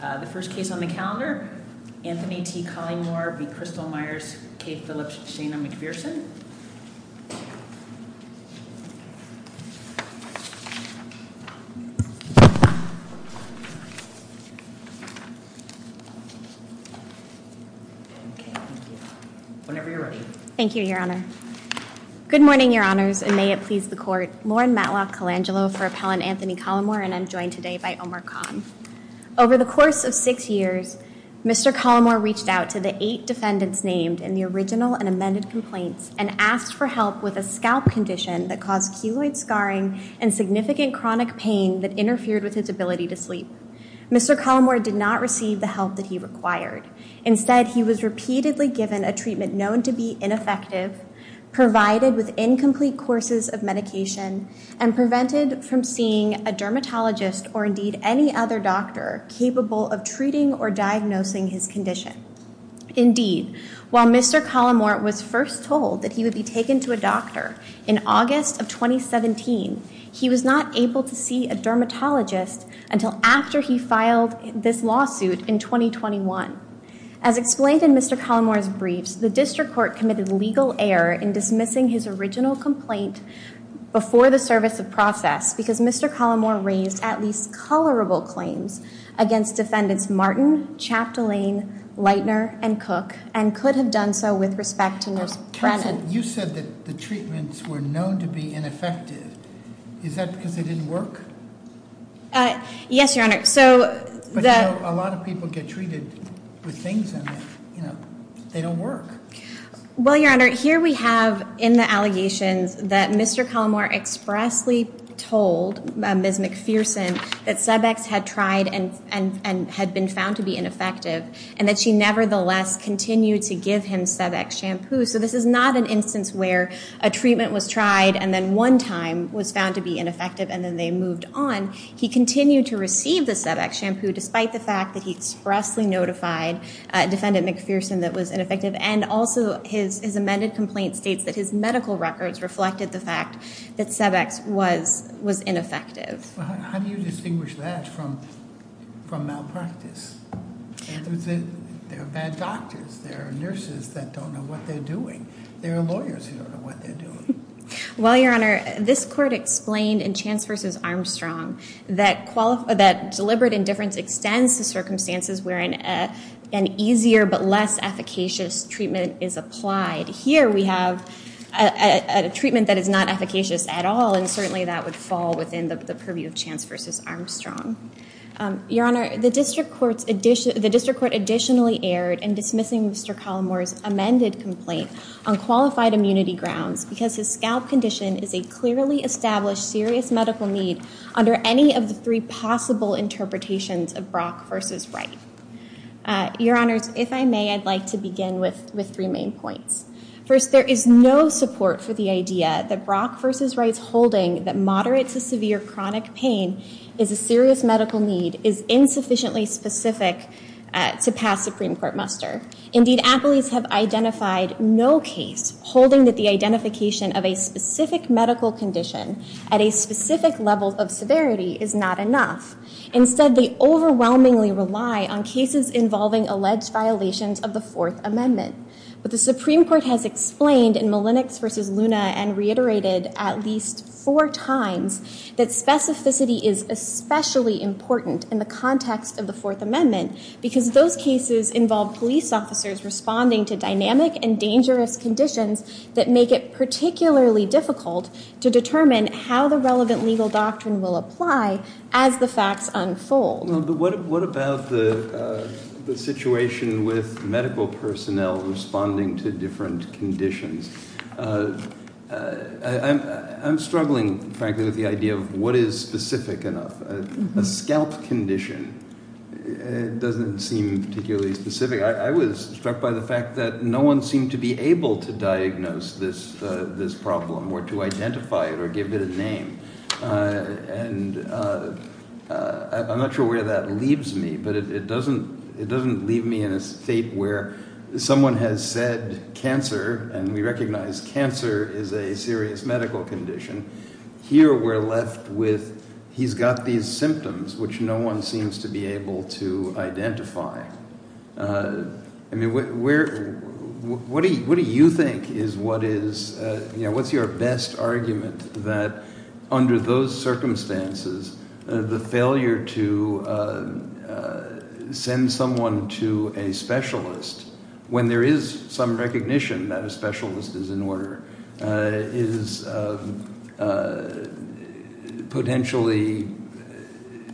The first case on the calendar, Anthony T. Collymore v. Crystal Meyers K. Phillips Shana McPherson. Whenever you're ready. Thank you, Your Honor. Good morning, Your Honors, and may it please the Court. Lauren Matlock Colangelo for Appellant Anthony Collymore, and I'm joined today by Omar Khan. Over the course of six years, Mr. Collymore reached out to the eight defendants named in the original and amended complaints and asked for help with a scalp condition that caused keloid scarring and significant chronic pain that interfered with his ability to sleep. Mr. Collymore did not receive the help that he required. Instead, he was repeatedly given a treatment known to be ineffective, provided with incomplete courses of medication, and prevented from seeing a dermatologist or indeed any other doctor capable of treating or diagnosing his condition. Indeed, while Mr. Collymore was first told that he would be taken to a doctor in August of 2017, he was not able to see a dermatologist until after he filed this lawsuit in 2021. As explained in Mr. Collymore's briefs, the District Court committed legal error in dismissing his original complaint before the service of process because Mr. Collymore raised at least colorable claims against defendants Martin, Chaptolaine, Leitner, and Cook, and could have done so with respect to Nurse Brennan. You said that the treatments were known to be ineffective. Is that because they didn't work? Yes, Your Honor, so- But you know, a lot of people get treated with things and they don't work. Well, Your Honor, here we have in the allegations that Mr. Collymore expressly told Ms. McPherson that Cebex had tried and had been found to be ineffective and that she nevertheless continued to give him Cebex shampoo. So this is not an instance where a treatment was tried and then one time was found to be ineffective and then they moved on. He continued to receive the Cebex shampoo despite the fact that he expressly notified defendant McPherson that was ineffective and also his amended complaint states that his medical records reflected the fact that Cebex was ineffective. How do you distinguish that from malpractice? There are bad doctors, there are nurses that don't know what they're doing. There are lawyers who don't know what they're doing. Well, Your Honor, this court explained in Chance versus Armstrong that deliberate indifference extends to circumstances wherein an easier but less efficacious treatment is applied. Here we have a treatment that is not efficacious at all and certainly that would fall within the purview of Chance versus Armstrong. Your Honor, the district court additionally erred in dismissing Mr. Collymore's amended complaint on qualified immunity grounds because his scalp condition is a clearly established serious medical need under any of the three possible interpretations of Brock versus Wright. Your Honors, if I may, I'd like to begin with three main points. First, there is no support for the idea that Brock versus Wright's holding that moderate to severe chronic pain is a serious medical need is insufficiently specific to pass Supreme Court muster. Indeed, appellees have identified no case holding that the identification of a specific medical condition at a specific level of severity is not enough. Instead, they overwhelmingly rely on cases involving alleged violations of the Fourth Amendment. But the Supreme Court has explained in Malenix versus Luna and reiterated at least four times that specificity is especially important in the context of the Fourth Amendment because those cases involve police officers responding to dynamic and dangerous conditions that make it particularly difficult to determine how the relevant legal doctrine will apply as the facts unfold. No, but what about the situation with medical personnel responding to different conditions? I'm struggling, frankly, with the idea of what is specific enough. A scalp condition doesn't seem particularly specific. I was struck by the fact that no one seemed to be able to diagnose this problem or to identify it or give it a name. And I'm not sure where that leaves me, but it doesn't leave me in a state where someone has said cancer, and we recognize cancer is a serious medical condition. Here, we're left with he's got these symptoms, which no one seems to be able to identify. I mean, what do you think is what is, you know, what's your best argument that under those circumstances, the failure to send someone to a specialist when there is some recognition that a specialist is in order is potentially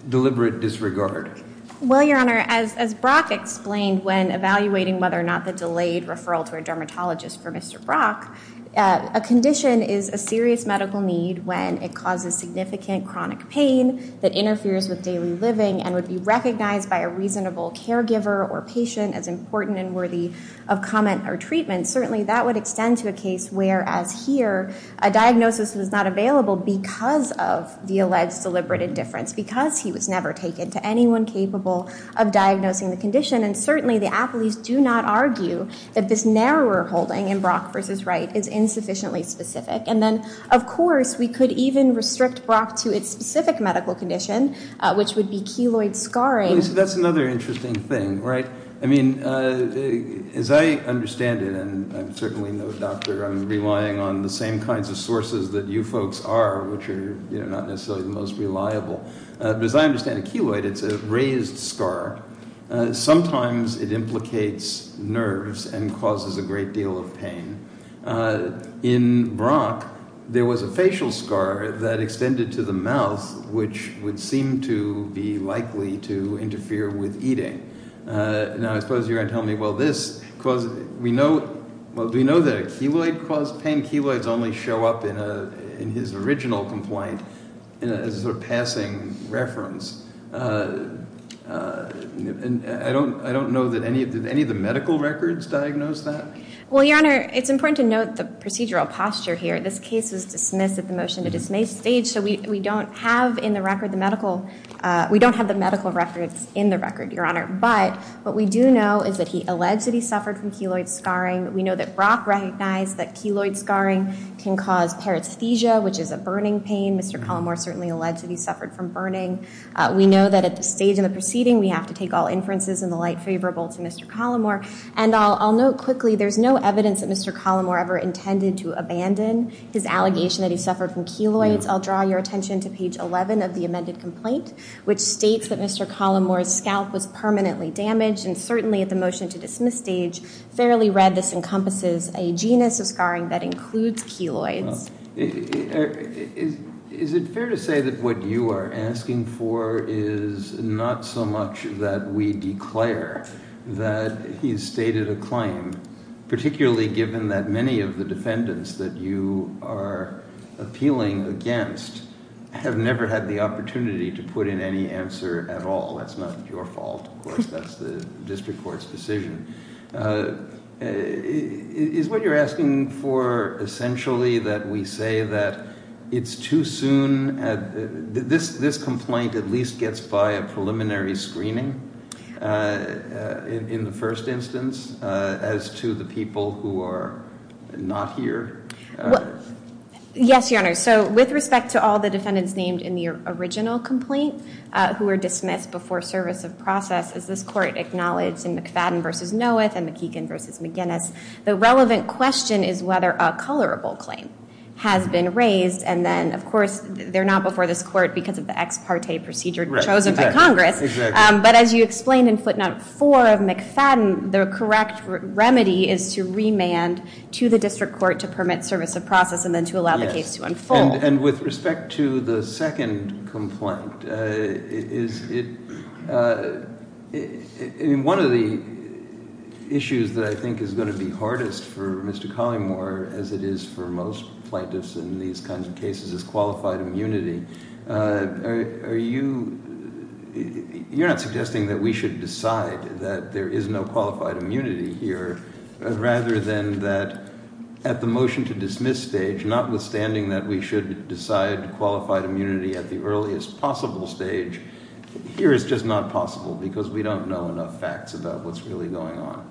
deliberate disregard? Well, Your Honor, as Brock explained when evaluating whether or not the delayed referral to a dermatologist for Mr. Brock, a condition is a serious medical need when it causes significant chronic pain that interferes with daily living and would be recognized by a reasonable caregiver or patient as important and worthy of comment or treatment. Certainly, that would extend to a case where, as here, a diagnosis was not available because of the alleged deliberate indifference, because he was never taken to anyone capable of diagnosing the condition. And certainly, the appellees do not argue that this narrower holding in Brock v. Wright is insufficiently specific. And then, of course, we could even restrict Brock to its specific medical condition, which would be keloid scarring. That's another interesting thing, right? I mean, as I understand it, and I'm certainly no doctor, I'm relying on the same kinds of sources that you folks are, which are, you know, not necessarily the most reliable. But as I understand it, keloid, it's a raised scar. Sometimes it implicates nerves and causes a great deal of pain. In Brock, there was a facial scar that extended to the mouth, which would seem to be likely to interfere with eating. Now, I suppose you're going to tell me, well, this caused, we know, well, do we know that a keloid caused pain? Keloids only show up in his original complaint as a sort of passing reference. And I don't know that any of the medical records diagnosed that. Well, Your Honor, it's important to note the procedural posture here. This case was dismissed at the motion to dismiss stage, so we don't have in the record the medical records in the record, Your Honor. But what we do know is that he alleged that he suffered from keloid scarring. We know that Brock recognized that keloid scarring can cause paresthesia, which is a burning pain. Mr. Collamore certainly alleged that he suffered from burning. We know that at the stage of the proceeding, we have to take all inferences in the light favorable to Mr. Collamore. And I'll note quickly, there's no evidence that Mr. Collamore ever intended to abandon his allegation that he suffered from keloids. I'll draw your attention to page 11 of the amended complaint, which states that Mr. Collamore's scalp was permanently damaged, and certainly at the motion to dismiss stage, fairly read, this encompasses a genus of scarring that includes keloids. Is it fair to say that what you are asking for is not so much that we declare that he who are appealing against have never had the opportunity to put in any answer at all? That's not your fault. Of course, that's the district court's decision. Is what you're asking for essentially that we say that it's too soon? This complaint at least gets by a preliminary screening in the first instance as to the Yes, Your Honor. So with respect to all the defendants named in the original complaint who were dismissed before service of process, as this court acknowledged in McFadden versus Noeth and McKeegan versus McGinnis, the relevant question is whether a colorable claim has been raised. And then, of course, they're not before this court because of the ex parte procedure chosen by Congress. But as you explained in footnote four of McFadden, the correct remedy is to remand to the district court to permit service of process and then to allow the case to unfold. And with respect to the second complaint, in one of the issues that I think is going to be hardest for Mr. Collymore, as it is for most plaintiffs in these kinds of cases, is qualified immunity. Are you, you're not suggesting that we should decide that there is no qualified immunity here, rather than that at the motion to dismiss stage, notwithstanding that we should decide qualified immunity at the earliest possible stage, here is just not possible because we don't know enough facts about what's really going on.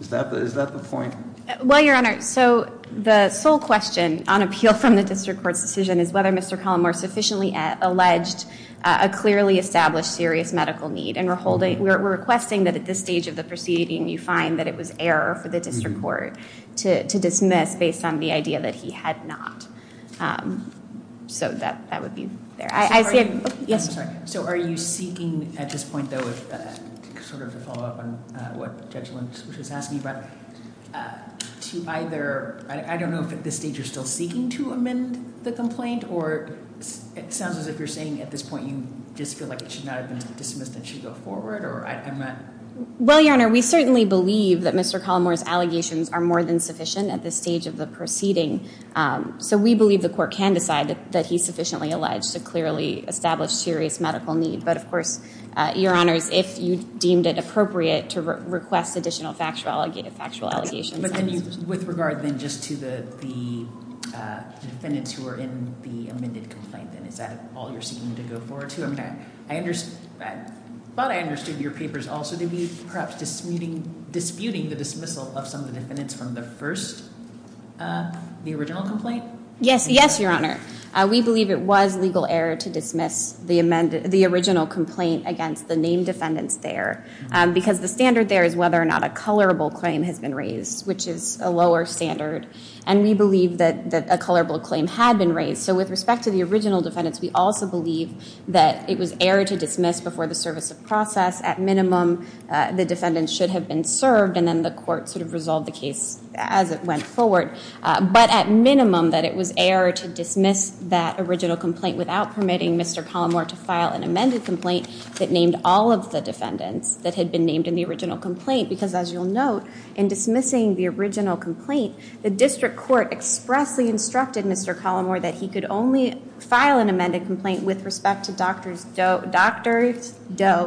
Is that the point? Well, Your Honor, so the sole question on appeal from the district court's decision is whether Mr. Collymore sufficiently alleged a clearly established serious medical need. And we're requesting that at this stage of the proceeding, you find that it was error for the district court to dismiss based on the idea that he had not. So that would be there. I see a- Yes. So are you seeking at this point, though, sort of to follow up on what Judge Lynch was asking about, to either, I don't know if at this stage you're still seeking to amend the complaint, or it sounds as if you're saying at this point you just feel like it should not have been dismissed and it should go forward, or I'm not- Well, Your Honor, we certainly believe that Mr. Collymore's allegations are more than sufficient at this stage of the proceeding. So we believe the court can decide that he's sufficiently alleged to clearly establish serious medical need. But of course, Your Honors, if you deemed it appropriate to request additional factual allegations- But then you, with regard then just to the defendants who are in the amended complaint, then is that all you're seeking to go forward to? But I understood your papers also to be perhaps disputing the dismissal of some of the defendants from the first, the original complaint? Yes, yes, Your Honor. We believe it was legal error to dismiss the original complaint against the named defendants there. Because the standard there is whether or not a colorable claim has been raised, which is a lower standard. And we believe that a colorable claim had been raised. So with respect to the original defendants, we also believe that it was error to dismiss before the service of process. At minimum, the defendants should have been served, and then the court sort of resolved the case as it went forward. But at minimum, that it was error to dismiss that original complaint without permitting Mr. Collymore to file an amended complaint that named all of the defendants that had been named in the original complaint. Because as you'll note, in dismissing the original complaint, the district court expressly instructed Mr. Collymore that he could only file an amended complaint with respect to Doctors Doe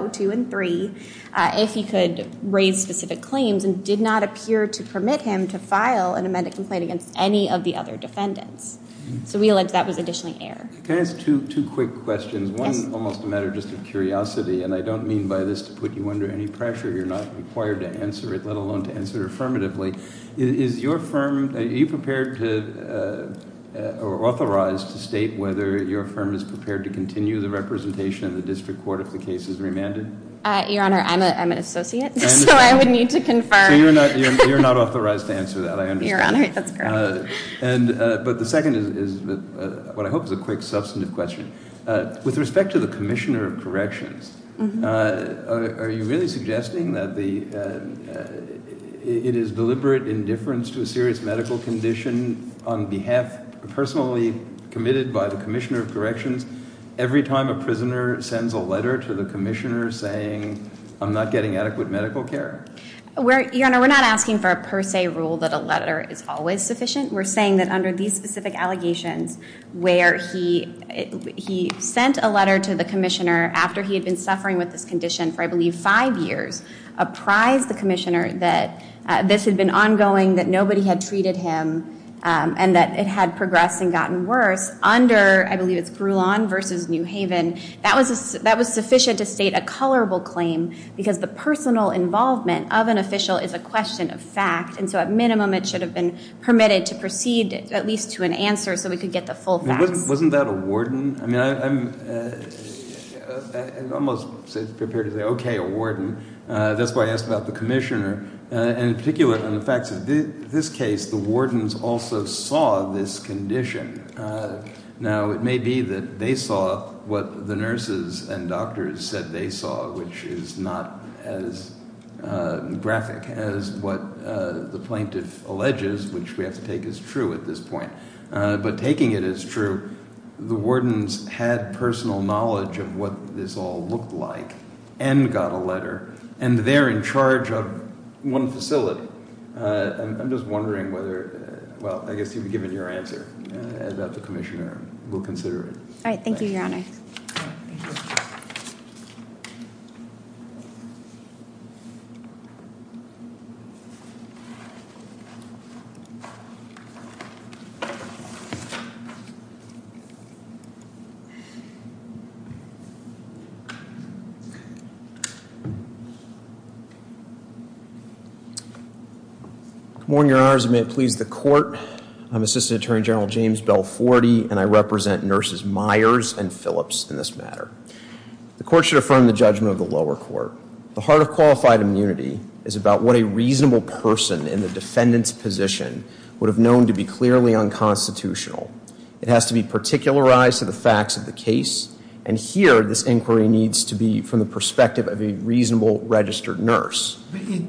2 and 3. If he could raise specific claims and did not appear to permit him to file an amended complaint against any of the other defendants. So we allege that was additionally error. Can I ask two quick questions? One, almost a matter just of curiosity, and I don't mean by this to put you under any pressure. You're not required to answer it, let alone to answer it affirmatively. Is your firm, are you prepared to, or authorized to state whether your firm is prepared to continue the representation of the district court if the case is remanded? Your Honor, I'm an associate, so I would need to confirm. So you're not authorized to answer that, I understand. Your Honor, that's correct. But the second is what I hope is a quick substantive question. With respect to the commissioner of corrections, are you really suggesting that it is deliberate indifference to a serious medical condition on behalf, personally committed by the commissioner of corrections, every time a prisoner sends a letter to the commissioner saying, I'm not getting adequate medical care? Your Honor, we're not asking for a per se rule that a letter is always sufficient. We're saying that under these specific allegations where he sent a letter to the commissioner after he had been suffering with this condition for I believe five years, apprised the commissioner that this had been ongoing, that nobody had treated him, and that it had progressed and gotten worse. Under, I believe it's Grulon versus New Haven, that was sufficient to state a colorable claim because the personal involvement of an official is a question of fact, and so at minimum it should have been permitted to proceed at least to an answer so we could get the full facts. Wasn't that a warden? I mean, I'm almost prepared to say, okay, a warden. That's why I asked about the commissioner, and in particular, in the facts of this case, the wardens also saw this condition. Now, it may be that they saw what the nurses and doctors said they saw, which is not as graphic as what the plaintiff alleges, which we have to take as true at this point. But taking it as true, the wardens had personal knowledge of what this all looked like, and got a letter, and they're in charge of one facility. I'm just wondering whether, well, I guess you've given your answer about the commissioner. We'll consider it. All right, thank you, Your Honor. Good morning, Your Honors, and may it please the court. I'm Assistant Attorney General James Bell Forty, and I represent Nurses Myers and Phillips in this matter. The court should affirm the judgment of the lower court. The heart of qualified immunity is about what a reasonable person in the defendant's position would have known to be clearly unconstitutional. It has to be particularized to the facts of the case. And here, this inquiry needs to be from the perspective of a reasonable registered nurse.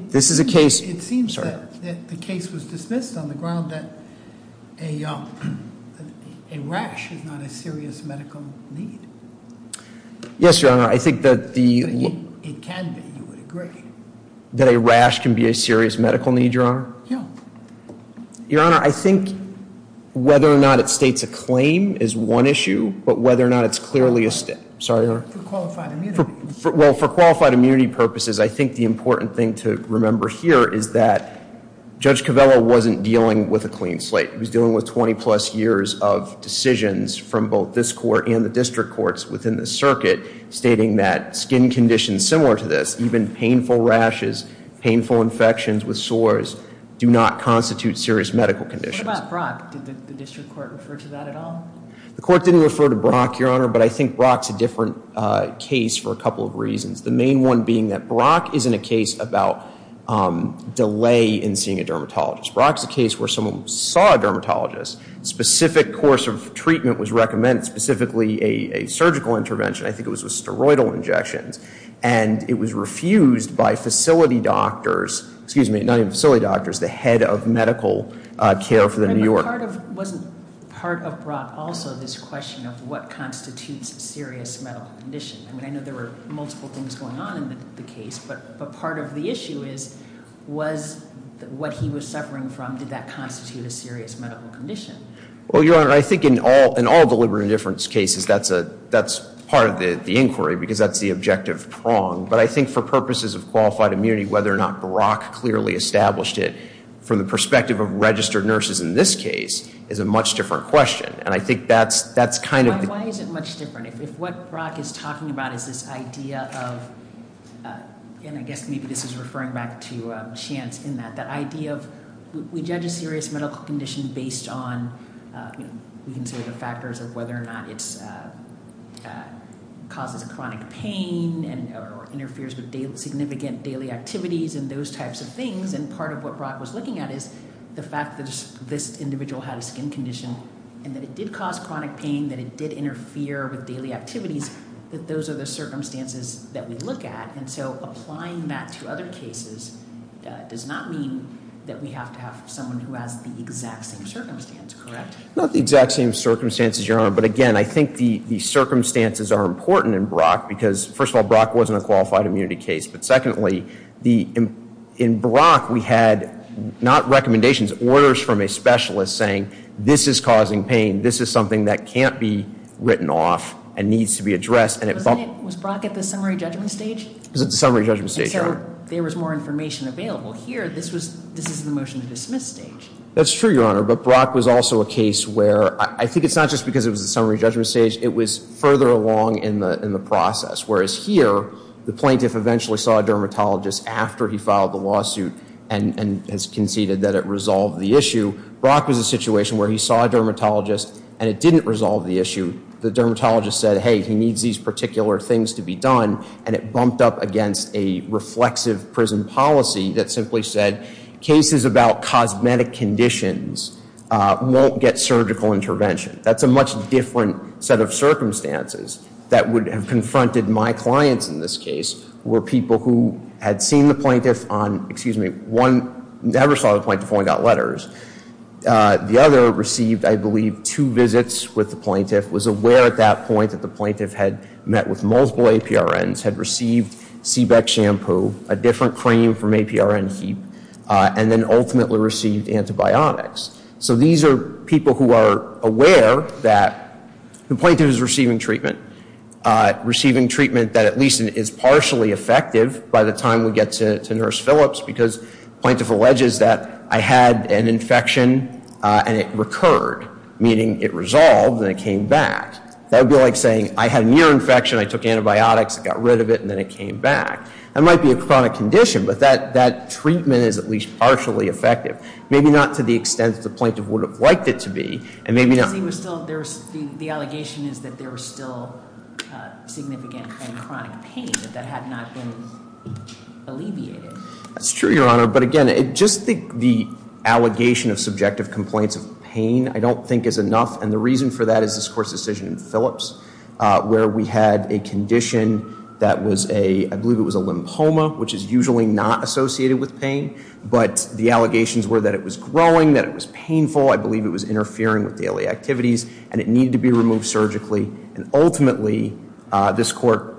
This is a case- It seems that the case was dismissed on the ground that a rash is not a serious medical need. Yes, Your Honor, I think that the- It can be, you would agree. That a rash can be a serious medical need, Your Honor? Yeah. Your Honor, I think whether or not it states a claim is one issue, but whether or not it's clearly a- Sorry, Your Honor? For qualified immunity. Well, for qualified immunity purposes, I think the important thing to remember here is that Judge Covello wasn't dealing with a clean slate. He was dealing with 20 plus years of decisions from both this court and the district courts within the circuit, stating that skin conditions similar to this, even painful rashes, painful infections with sores, do not constitute serious medical conditions. What about Brock? Did the district court refer to that at all? The court didn't refer to Brock, Your Honor, but I think Brock's a different case for a couple of reasons. The main one being that Brock isn't a case about delay in seeing a dermatologist. Brock's a case where someone saw a dermatologist, specific course of treatment was recommended, specifically a surgical intervention. I think it was steroidal injections. And it was refused by facility doctors, excuse me, not even facility doctors, the head of medical care for the New York- But wasn't part of Brock also this question of what constitutes a serious medical condition? I mean, I know there were multiple things going on in the case, but part of the issue is, was what he was suffering from, did that constitute a serious medical condition? Well, Your Honor, I think in all deliberate indifference cases, that's part of the inquiry, because that's the objective prong. But I think for purposes of qualified immunity, whether or not Brock clearly established it, from the perspective of registered nurses in this case, is a much different question. And I think that's kind of- Why is it much different? If what Brock is talking about is this idea of, and I guess maybe this is referring back to Chance in that, that idea of, we judge a serious medical condition based on, we consider the factors of whether or not it causes chronic pain, or interferes with significant daily activities, and those types of things. And part of what Brock was looking at is the fact that this individual had a skin condition, and that it did cause chronic pain, that it did interfere with daily activities, that those are the circumstances that we look at. And so applying that to other cases does not mean that we have to have someone who has the exact same circumstance, correct? Not the exact same circumstances, Your Honor. But again, I think the circumstances are important in Brock, because first of all, Brock wasn't a qualified immunity case. But secondly, in Brock, we had not recommendations, orders from a specialist saying this is causing pain, this is something that can't be written off and needs to be addressed. Was Brock at the summary judgment stage? It was at the summary judgment stage, Your Honor. And so there was more information available. Here, this is the motion to dismiss stage. That's true, Your Honor, but Brock was also a case where, I think it's not just because it was a summary judgment stage, it was further along in the process. Whereas here, the plaintiff eventually saw a dermatologist after he filed the lawsuit and has conceded that it resolved the issue. Brock was a situation where he saw a dermatologist and it didn't resolve the issue. The dermatologist said, hey, he needs these particular things to be done. And it bumped up against a reflexive prison policy that simply said, cases about cosmetic conditions won't get surgical intervention. That's a much different set of circumstances that would have confronted my clients in this case, were people who had seen the plaintiff on, excuse me, one never saw the plaintiff, only got letters. The other received, I believe, two visits with the plaintiff, was aware at that point that the plaintiff had met with multiple APRNs, had received C-BEC shampoo, a different cream from APRN Heap, and then ultimately received antibiotics. So these are people who are aware that the plaintiff is receiving treatment. Receiving treatment that at least is partially effective by the time we get to Nurse Phillips, because plaintiff alleges that I had an infection and it recurred, meaning it resolved and it came back. That would be like saying, I had an ear infection, I took antibiotics, it got rid of it, and then it came back. That might be a chronic condition, but that treatment is at least partially effective. Maybe not to the extent that the plaintiff would have liked it to be, and maybe not- The allegation is that there was still significant and chronic pain that had not been alleviated. That's true, Your Honor, but again, just the allegation of subjective complaints of pain, I don't think is enough. And the reason for that is this court's decision in Phillips, where we had a condition that was a, I believe it was a lymphoma, which is usually not associated with pain, but the allegations were that it was growing, that it was painful. I believe it was interfering with daily activities, and it needed to be removed surgically. And ultimately, this court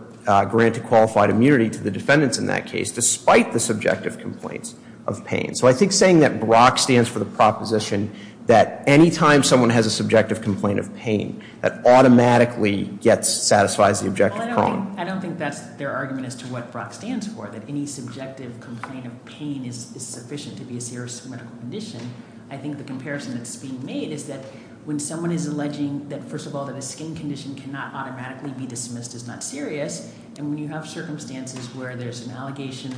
granted qualified immunity to the defendants in that case, despite the subjective complaints of pain. So I think saying that Brock stands for the proposition that any time someone has a subjective complaint of pain, that automatically satisfies the objective prong. I don't think that's their argument as to what Brock stands for, that any subjective complaint of pain is sufficient to be a serious medical condition. I think the comparison that's being made is that when someone is alleging that, first of all, that a skin condition cannot automatically be dismissed as not serious, and when you have circumstances where there's an allegation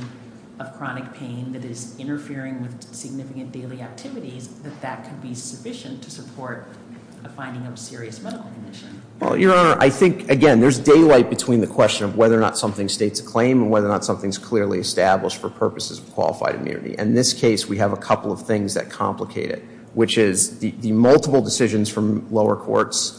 of chronic pain that is interfering with significant daily activities, that that could be sufficient to support a finding of serious medical condition. Well, Your Honor, I think, again, there's daylight between the question of whether or not something states a claim and whether or not something's clearly established for purposes of qualified immunity. In this case, we have a couple of things that complicate it, which is the multiple decisions from lower courts.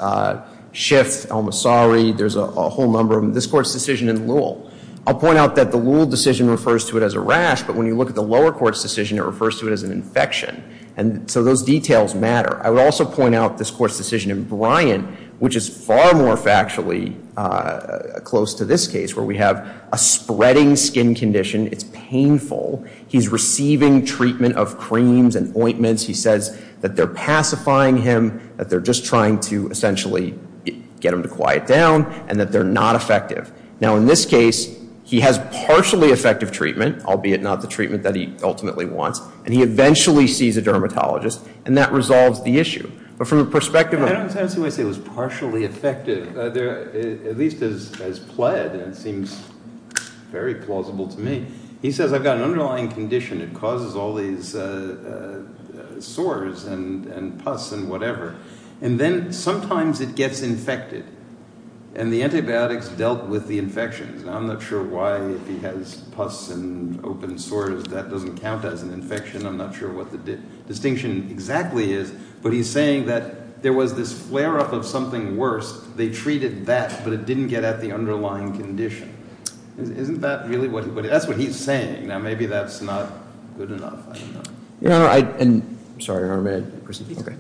Schiff, El-Masari, there's a whole number of them. This court's decision in Llewell. I'll point out that the Llewell decision refers to it as a rash, but when you look at the lower court's decision, it refers to it as an infection. And so those details matter. I would also point out this court's decision in Bryan, which is far more factually close to this case, where we have a spreading skin condition, it's painful. He's receiving treatment of creams and ointments. He says that they're pacifying him, that they're just trying to essentially get him to quiet down, and that they're not effective. Now in this case, he has partially effective treatment, albeit not the treatment that he ultimately wants, and he eventually sees a dermatologist, and that resolves the issue. But from the perspective of- I don't necessarily say it was partially effective, at least as pled, and it seems very plausible to me. He says, I've got an underlying condition, it causes all these sores and pus and whatever. And then sometimes it gets infected, and the antibiotics dealt with the infections. Now I'm not sure why, if he has pus and open sores, that doesn't count as an infection. I'm not sure what the distinction exactly is, but he's saying that there was this flare up of something worse. They treated that, but it didn't get at the underlying condition. Isn't that really what he, that's what he's saying. Now maybe that's not good enough, I don't know. Your Honor, I, and, I'm sorry, Your Honor, may I proceed? Okay.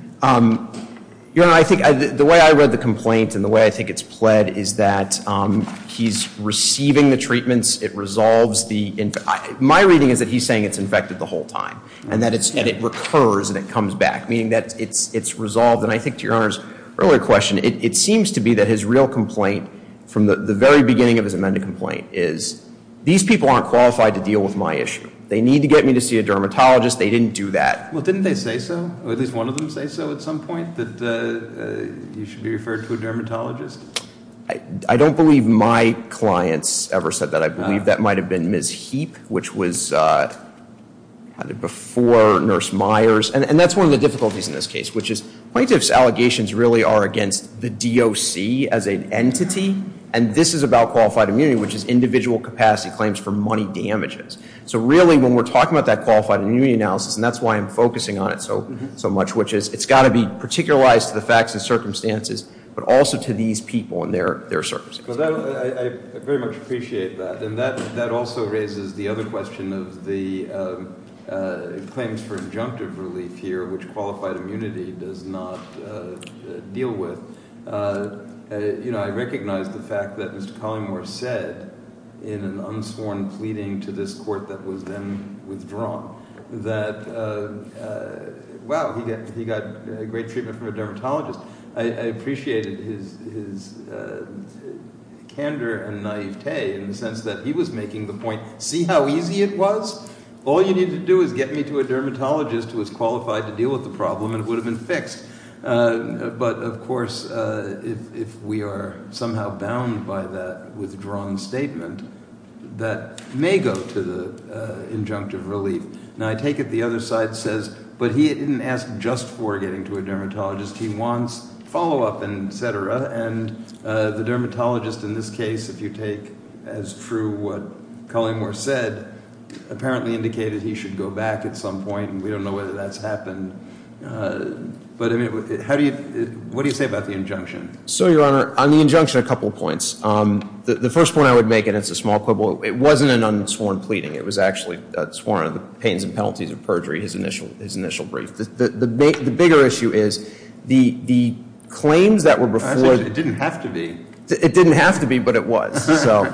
Your Honor, I think the way I read the complaint and the way I think it's pled is that he's receiving the treatments, it resolves the, my reading is that he's saying it's infected the whole time, and that it recurs and it comes back. Meaning that it's resolved, and I think to Your Honor's earlier question, it seems to be that his real complaint from the very beginning of his amended complaint is, these people aren't qualified to deal with my issue. They need to get me to see a dermatologist, they didn't do that. Well, didn't they say so, or at least one of them say so at some point, that you should be referred to a dermatologist? I don't believe my clients ever said that. I believe that might have been Ms. Heap, which was before Nurse Myers. And that's one of the difficulties in this case, which is plaintiff's allegations really are against the DOC as an entity. And this is about qualified immunity, which is individual capacity claims for money damages. So really, when we're talking about that qualified immunity analysis, and that's why I'm focusing on it so much, which is it's gotta be particularized to the facts and circumstances, but also to these people and their circumstances. So I very much appreciate that. And that also raises the other question of the claims for injunctive relief here, which qualified immunity does not deal with. I recognize the fact that Mr. Collymore said in an unsworn pleading to this court that was then withdrawn, that wow, he got great treatment from a dermatologist. I appreciated his candor and naivete in the sense that he was making the point, see how easy it was? All you need to do is get me to a dermatologist who is qualified to deal with the problem, and it would have been fixed. But of course, if we are somehow bound by that withdrawn statement, that may go to the injunctive relief. And I take it the other side says, but he didn't ask just for getting to a dermatologist. He wants follow up and et cetera, and the dermatologist in this case, if you take as true what Collymore said, apparently indicated he should go back at some point. And we don't know whether that's happened, but what do you say about the injunction? So, your honor, on the injunction, a couple points. The first point I would make, and it's a small quibble, it wasn't an unsworn pleading. It was actually sworn on the pains and penalties of perjury, his initial brief. The bigger issue is, the claims that were before- It didn't have to be. It didn't have to be, but it was, so.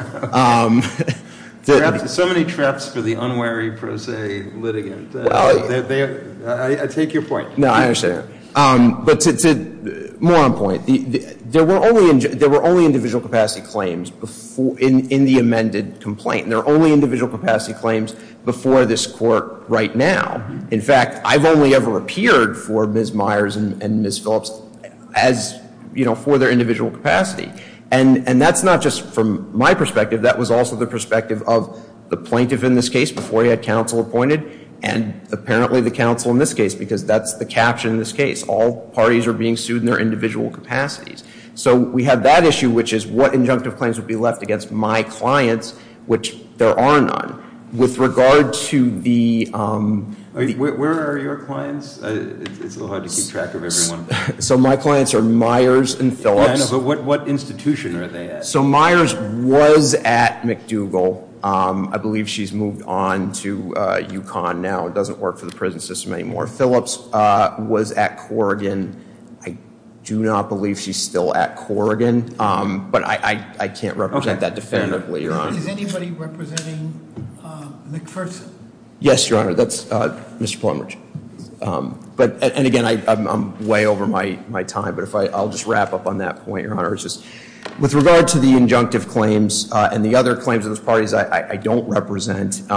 There are so many traps for the unwary prosaic litigant, I take your point. No, I understand. But to more on point, there were only individual capacity claims in the amended complaint. There are only individual capacity claims before this court right now. In fact, I've only ever appeared for Ms. Myers and Ms. Phillips as, you know, for their individual capacity. And that's not just from my perspective. That was also the perspective of the plaintiff in this case before he had counsel appointed, and apparently the counsel in this case, because that's the caption in this case. All parties are being sued in their individual capacities. So, we have that issue, which is what injunctive claims would be left against my clients, which there are none. With regard to the- Where are your clients? It's a little hard to keep track of everyone. So, my clients are Myers and Phillips. Yeah, but what institution are they at? So, Myers was at McDougal. I believe she's moved on to UConn now. It doesn't work for the prison system anymore. Phillips was at Corrigan. I do not believe she's still at Corrigan, but I can't represent that defendant later on. Is anybody representing McPherson? Yes, Your Honor, that's Mr. Plummer. But, and again, I'm way over my time, but I'll just wrap up on that point, Your Honor. With regard to the injunctive claims and the other claims of those parties I don't represent, we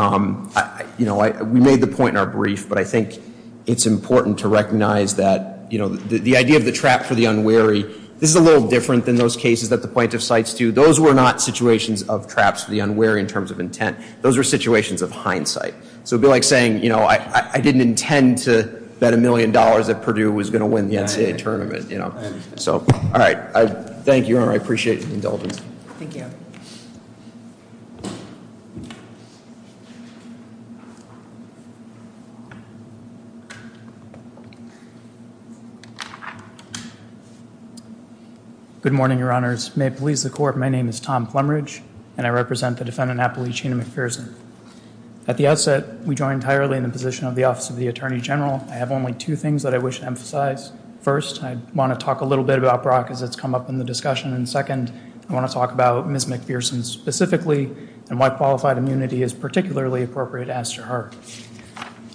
made the point in our brief, but I think it's important to recognize that the idea of the trap for the unwary, this is a little different than those cases that the plaintiff cites to. Those were not situations of traps for the unwary in terms of intent. Those were situations of hindsight. So, it would be like saying, you know, I didn't intend to bet a million dollars that Purdue was going to win the NCAA tournament, you know. So, all right. Thank you, Your Honor. I appreciate the indulgence. Thank you. Good morning, Your Honors. May it please the Court, my name is Tom Plummeridge, and I represent the defendant, Appalachian McPherson. At the outset, we join entirely in the position of the Office of the Attorney General. I have only two things that I wish to emphasize. First, I want to talk a little bit about Brock as it's come up in the discussion. And second, I want to talk about Ms. McPherson specifically and why qualified immunity is particularly appropriate as to her.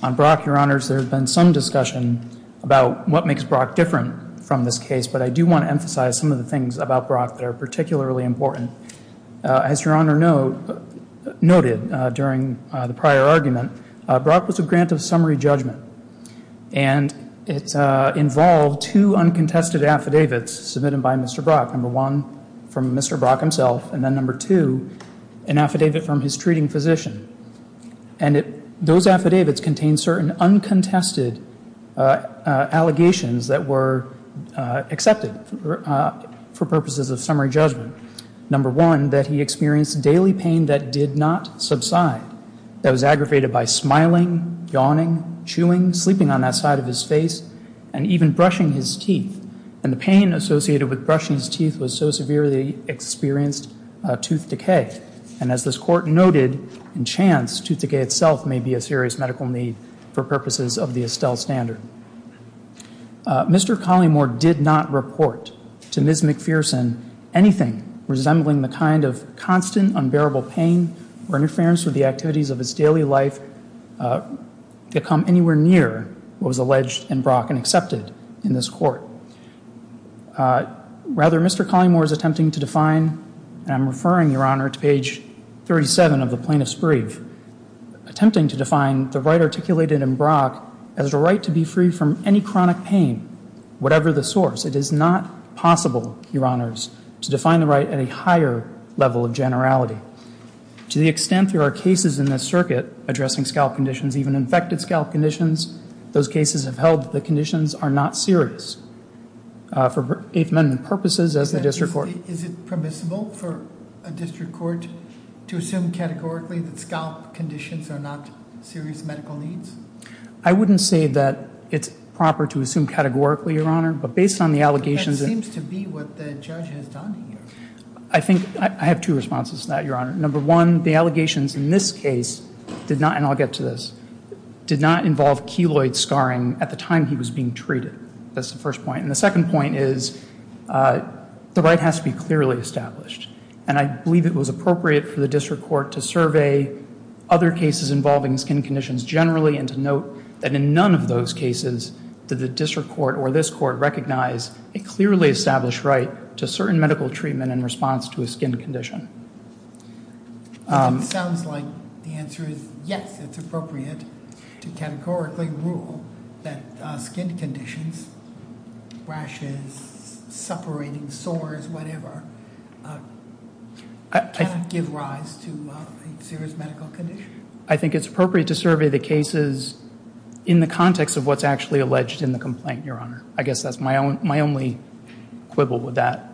On Brock, Your Honors, there's been some discussion about what makes Brock different from this case. But I do want to emphasize some of the things about Brock that are particularly important. As Your Honor noted during the prior argument, Brock was a grant of summary judgment. And it involved two uncontested affidavits submitted by Mr. Brock. Number one, from Mr. Brock himself. And then number two, an affidavit from his treating physician. And those affidavits contained certain uncontested allegations that were accepted for purposes of summary judgment. Number one, that he experienced daily pain that did not subside. That was aggravated by smiling, yawning, chewing, sleeping on that side of his face, and even brushing his teeth. And the pain associated with brushing his teeth was so severe that he experienced tooth decay. And as this court noted, in chance, tooth decay itself may be a serious medical need for purposes of the Estelle Standard. Mr. Collymore did not report to Ms. McPherson anything resembling the kind of constant, unbearable pain or interference with the activities of his daily life that come anywhere near what was alleged in Brock and accepted in this court. Rather, Mr. Collymore is attempting to define, and I'm referring, Your Honor, to page 37 of the plaintiff's brief. Attempting to define the right articulated in Brock as the right to be free from any chronic pain, whatever the source. It is not possible, Your Honors, to define the right at a higher level of generality. To the extent there are cases in this circuit addressing scalp conditions, even infected scalp conditions, those cases have held that the conditions are not serious for Eighth Amendment purposes as a district court. Is it permissible for a district court to assume categorically that scalp conditions are not serious medical needs? I wouldn't say that it's proper to assume categorically, Your Honor, but based on the allegations- That seems to be what the judge has done here. I think, I have two responses to that, Your Honor. Number one, the allegations in this case did not, and I'll get to this, did not involve keloid scarring at the time he was being treated. That's the first point. And the second point is the right has to be clearly established. And I believe it was appropriate for the district court to survey other cases involving skin conditions generally and to note that in none of those cases did the district court or this court recognize a clearly established right to certain medical treatment in response to a skin condition. It sounds like the answer is yes, it's appropriate to categorically rule that skin conditions, rashes, separating, sores, whatever, cannot give rise to a serious medical condition. I think it's appropriate to survey the cases in the context of what's actually alleged in the complaint, Your Honor. I guess that's my only quibble with that.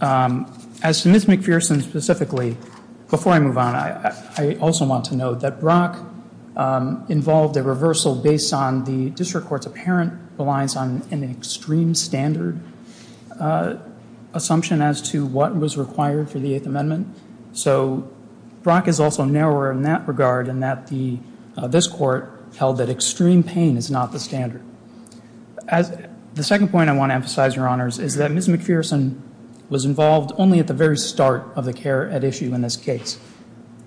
As to Ms. McPherson specifically, before I move on, I also want to note that Brock involved a reversal based on the district court's apparent reliance on an extreme standard assumption as to what was required for the Eighth Amendment. So Brock is also narrower in that regard in that this court held that extreme pain is not the standard. The second point I want to emphasize, Your Honors, is that Ms. McPherson was involved only at the very start of the care at issue in this case.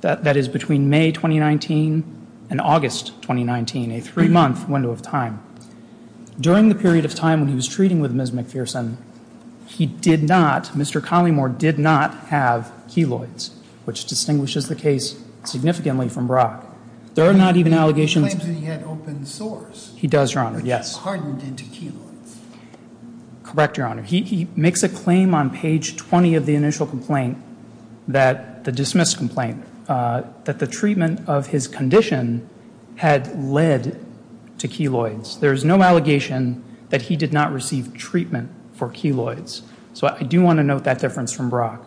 That is between May 2019 and August 2019, a three month window of time. During the period of time when he was treating with Ms. McPherson, he did not, Mr. Collymore, did not have keloids, which distinguishes the case significantly from Brock. There are not even allegations- He claims that he had open sores. He does, Your Honor, yes. Hardened into keloids. Correct, Your Honor. He makes a claim on page 20 of the initial complaint, the dismissed complaint, that the treatment of his condition had led to keloids. There's no allegation that he did not receive treatment for keloids. So I do want to note that difference from Brock.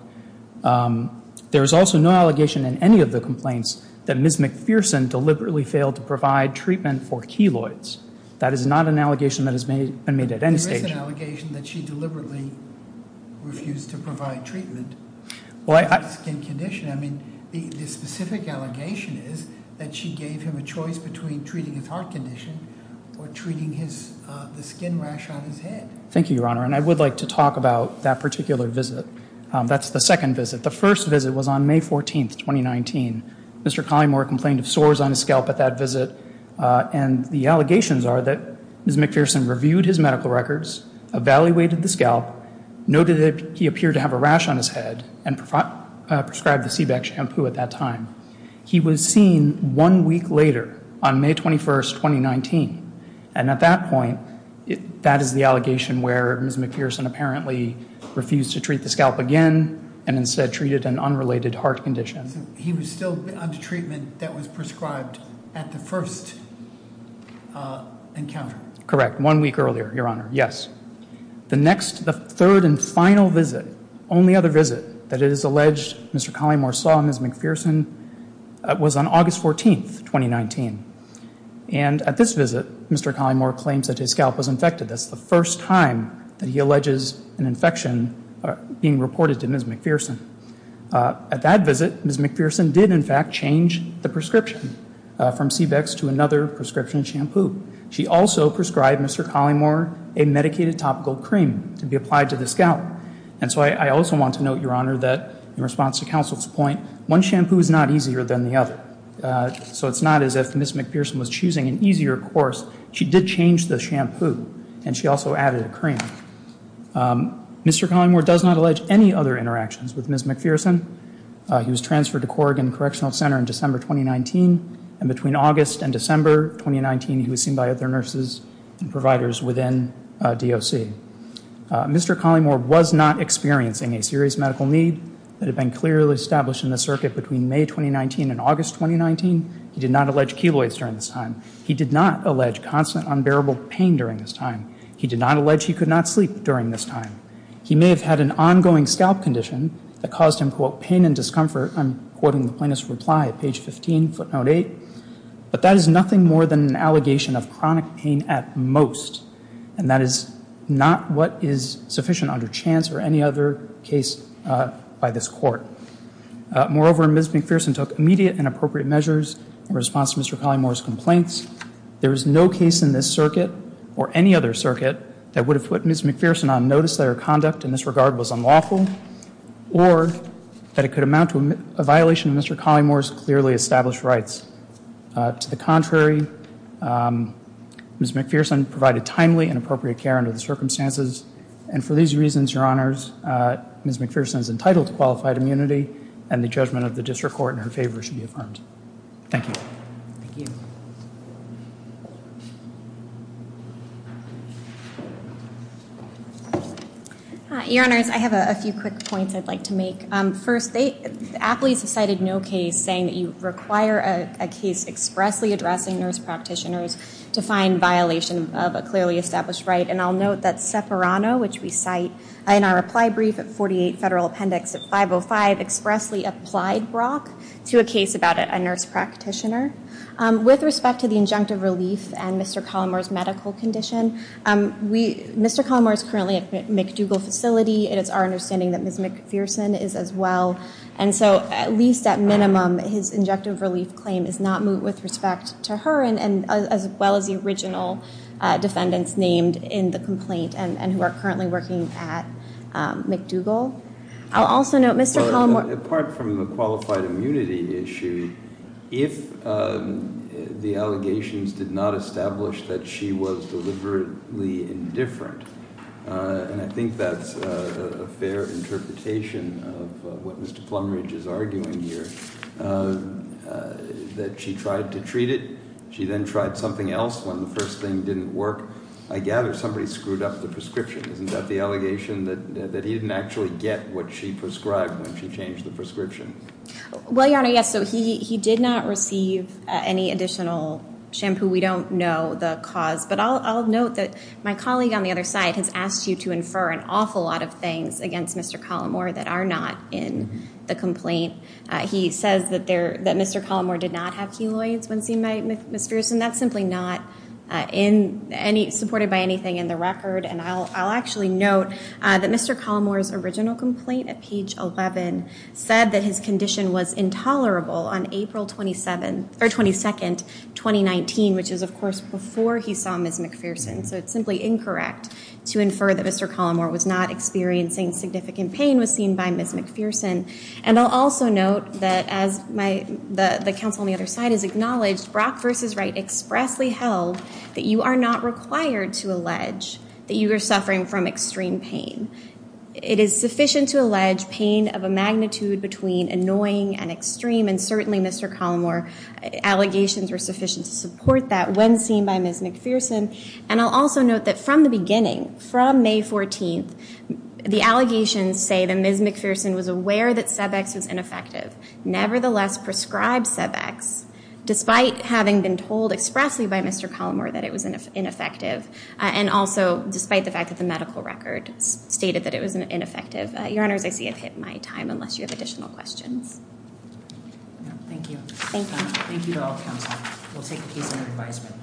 There is also no allegation in any of the complaints that Ms. McPherson deliberately failed to provide treatment for keloids. That is not an allegation that has been made at any stage. There is an allegation that she deliberately refused to provide treatment for his skin condition. I mean, the specific allegation is that she gave him a choice between treating his heart condition or treating the skin rash on his head. Thank you, Your Honor, and I would like to talk about that particular visit. That's the second visit. The first visit was on May 14th, 2019. Mr. Collymore complained of sores on his scalp at that visit, and the allegations are that Ms. McPherson reviewed his medical records, evaluated the scalp, noted that he appeared to have a rash on his head, and prescribed the C-BAC shampoo at that time. He was seen one week later, on May 21st, 2019, and at that point, that is the allegation where Ms. McPherson apparently refused to treat the scalp again, and instead treated an unrelated heart condition. He was still under treatment that was prescribed at the first encounter? Correct, one week earlier, Your Honor, yes. The next, the third and final visit, only other visit, that it is alleged Mr. Collymore saw Ms. McPherson, was on August 14th, 2019. And at this visit, Mr. Collymore claims that his scalp was infected. That's the first time that he alleges an infection being reported to Ms. McPherson. At that visit, Ms. McPherson did in fact change the prescription from C-BACs to another prescription shampoo. She also prescribed Mr. Collymore a medicated topical cream to be applied to the scalp. And so I also want to note, Your Honor, that in response to counsel's point, one shampoo is not easier than the other. So it's not as if Ms. McPherson was choosing an easier course. She did change the shampoo, and she also added a cream. Mr. Collymore does not allege any other interactions with Ms. McPherson. He was transferred to Corrigan Correctional Center in December 2019, and between August and December 2019, he was seen by other nurses and providers within DOC. Mr. Collymore was not experiencing a serious medical need that had been clearly established in the circuit between May 2019 and August 2019. He did not allege keloids during this time. He did not allege constant unbearable pain during this time. He did not allege he could not sleep during this time. He may have had an ongoing scalp condition that caused him, quote, pain and discomfort. I'm quoting the plaintiff's reply at page 15, footnote 8. But that is nothing more than an allegation of chronic pain at most. And that is not what is sufficient under chance or any other case by this court. Moreover, Ms. McPherson took immediate and appropriate measures in response to Mr. Collymore's complaints. There is no case in this circuit or any other circuit that would have put Ms. McPherson on notice that her conduct in this regard was unlawful or that it could amount to a violation of Mr. Collymore's clearly established rights. To the contrary, Ms. McPherson provided timely and appropriate care under the circumstances. And for these reasons, your honors, Ms. McPherson is entitled to qualified immunity and the judgment of the district court in her favor should be affirmed. Thank you. Thank you. Your honors, I have a few quick points I'd like to make. First, the athletes have cited no case saying that you require a case expressly addressing nurse practitioners to find violation of a clearly established right, and I'll note that Seperano, which we cite in our reply brief at 48 Federal Appendix 505, expressly applied Brock to a case about a nurse practitioner. With respect to the injunctive relief and Mr. Collymore's medical condition, Mr. Collymore's understanding that Ms. McPherson is as well, and so at least at minimum, his injunctive relief claim is not moved with respect to her and as well as the original defendants named in the complaint and who are currently working at McDougall. I'll also note Mr. Collymore- Apart from the qualified immunity issue, if the allegations did not establish that she was deliberately indifferent, and I think that's a fair interpretation of what Mr. Plumridge is arguing here, that she tried to treat it, she then tried something else when the first thing didn't work. I gather somebody screwed up the prescription. Isn't that the allegation that he didn't actually get what she prescribed when she changed the prescription? Well, your honor, yes, so he did not receive any additional shampoo. We don't know the cause, but I'll note that my colleague on the other side has asked you to infer an awful lot of things against Mr. Collymore that are not in the complaint. He says that Mr. Collymore did not have heloids when seeing Ms. McPherson. That's simply not supported by anything in the record, and I'll actually note that Mr. Collymore's original complaint at page 11 said that his condition was intolerable on April 22nd, 2019. Which is, of course, before he saw Ms. McPherson, so it's simply incorrect to infer that Mr. Collymore was not experiencing significant pain was seen by Ms. McPherson. And I'll also note that as the counsel on the other side has acknowledged, Brock versus Wright expressly held that you are not required to allege that you are suffering from extreme pain. It is sufficient to allege pain of a magnitude between annoying and extreme, and that when seen by Ms. McPherson, and I'll also note that from the beginning, from May 14th, the allegations say that Ms. McPherson was aware that Cebex was ineffective, nevertheless prescribed Cebex. Despite having been told expressly by Mr. Collymore that it was ineffective, and also despite the fact that the medical record stated that it was ineffective. Your honors, I see I've hit my time, unless you have additional questions. Thank you. Thank you. Thank you to all counsel. We'll take a piece of your advisement.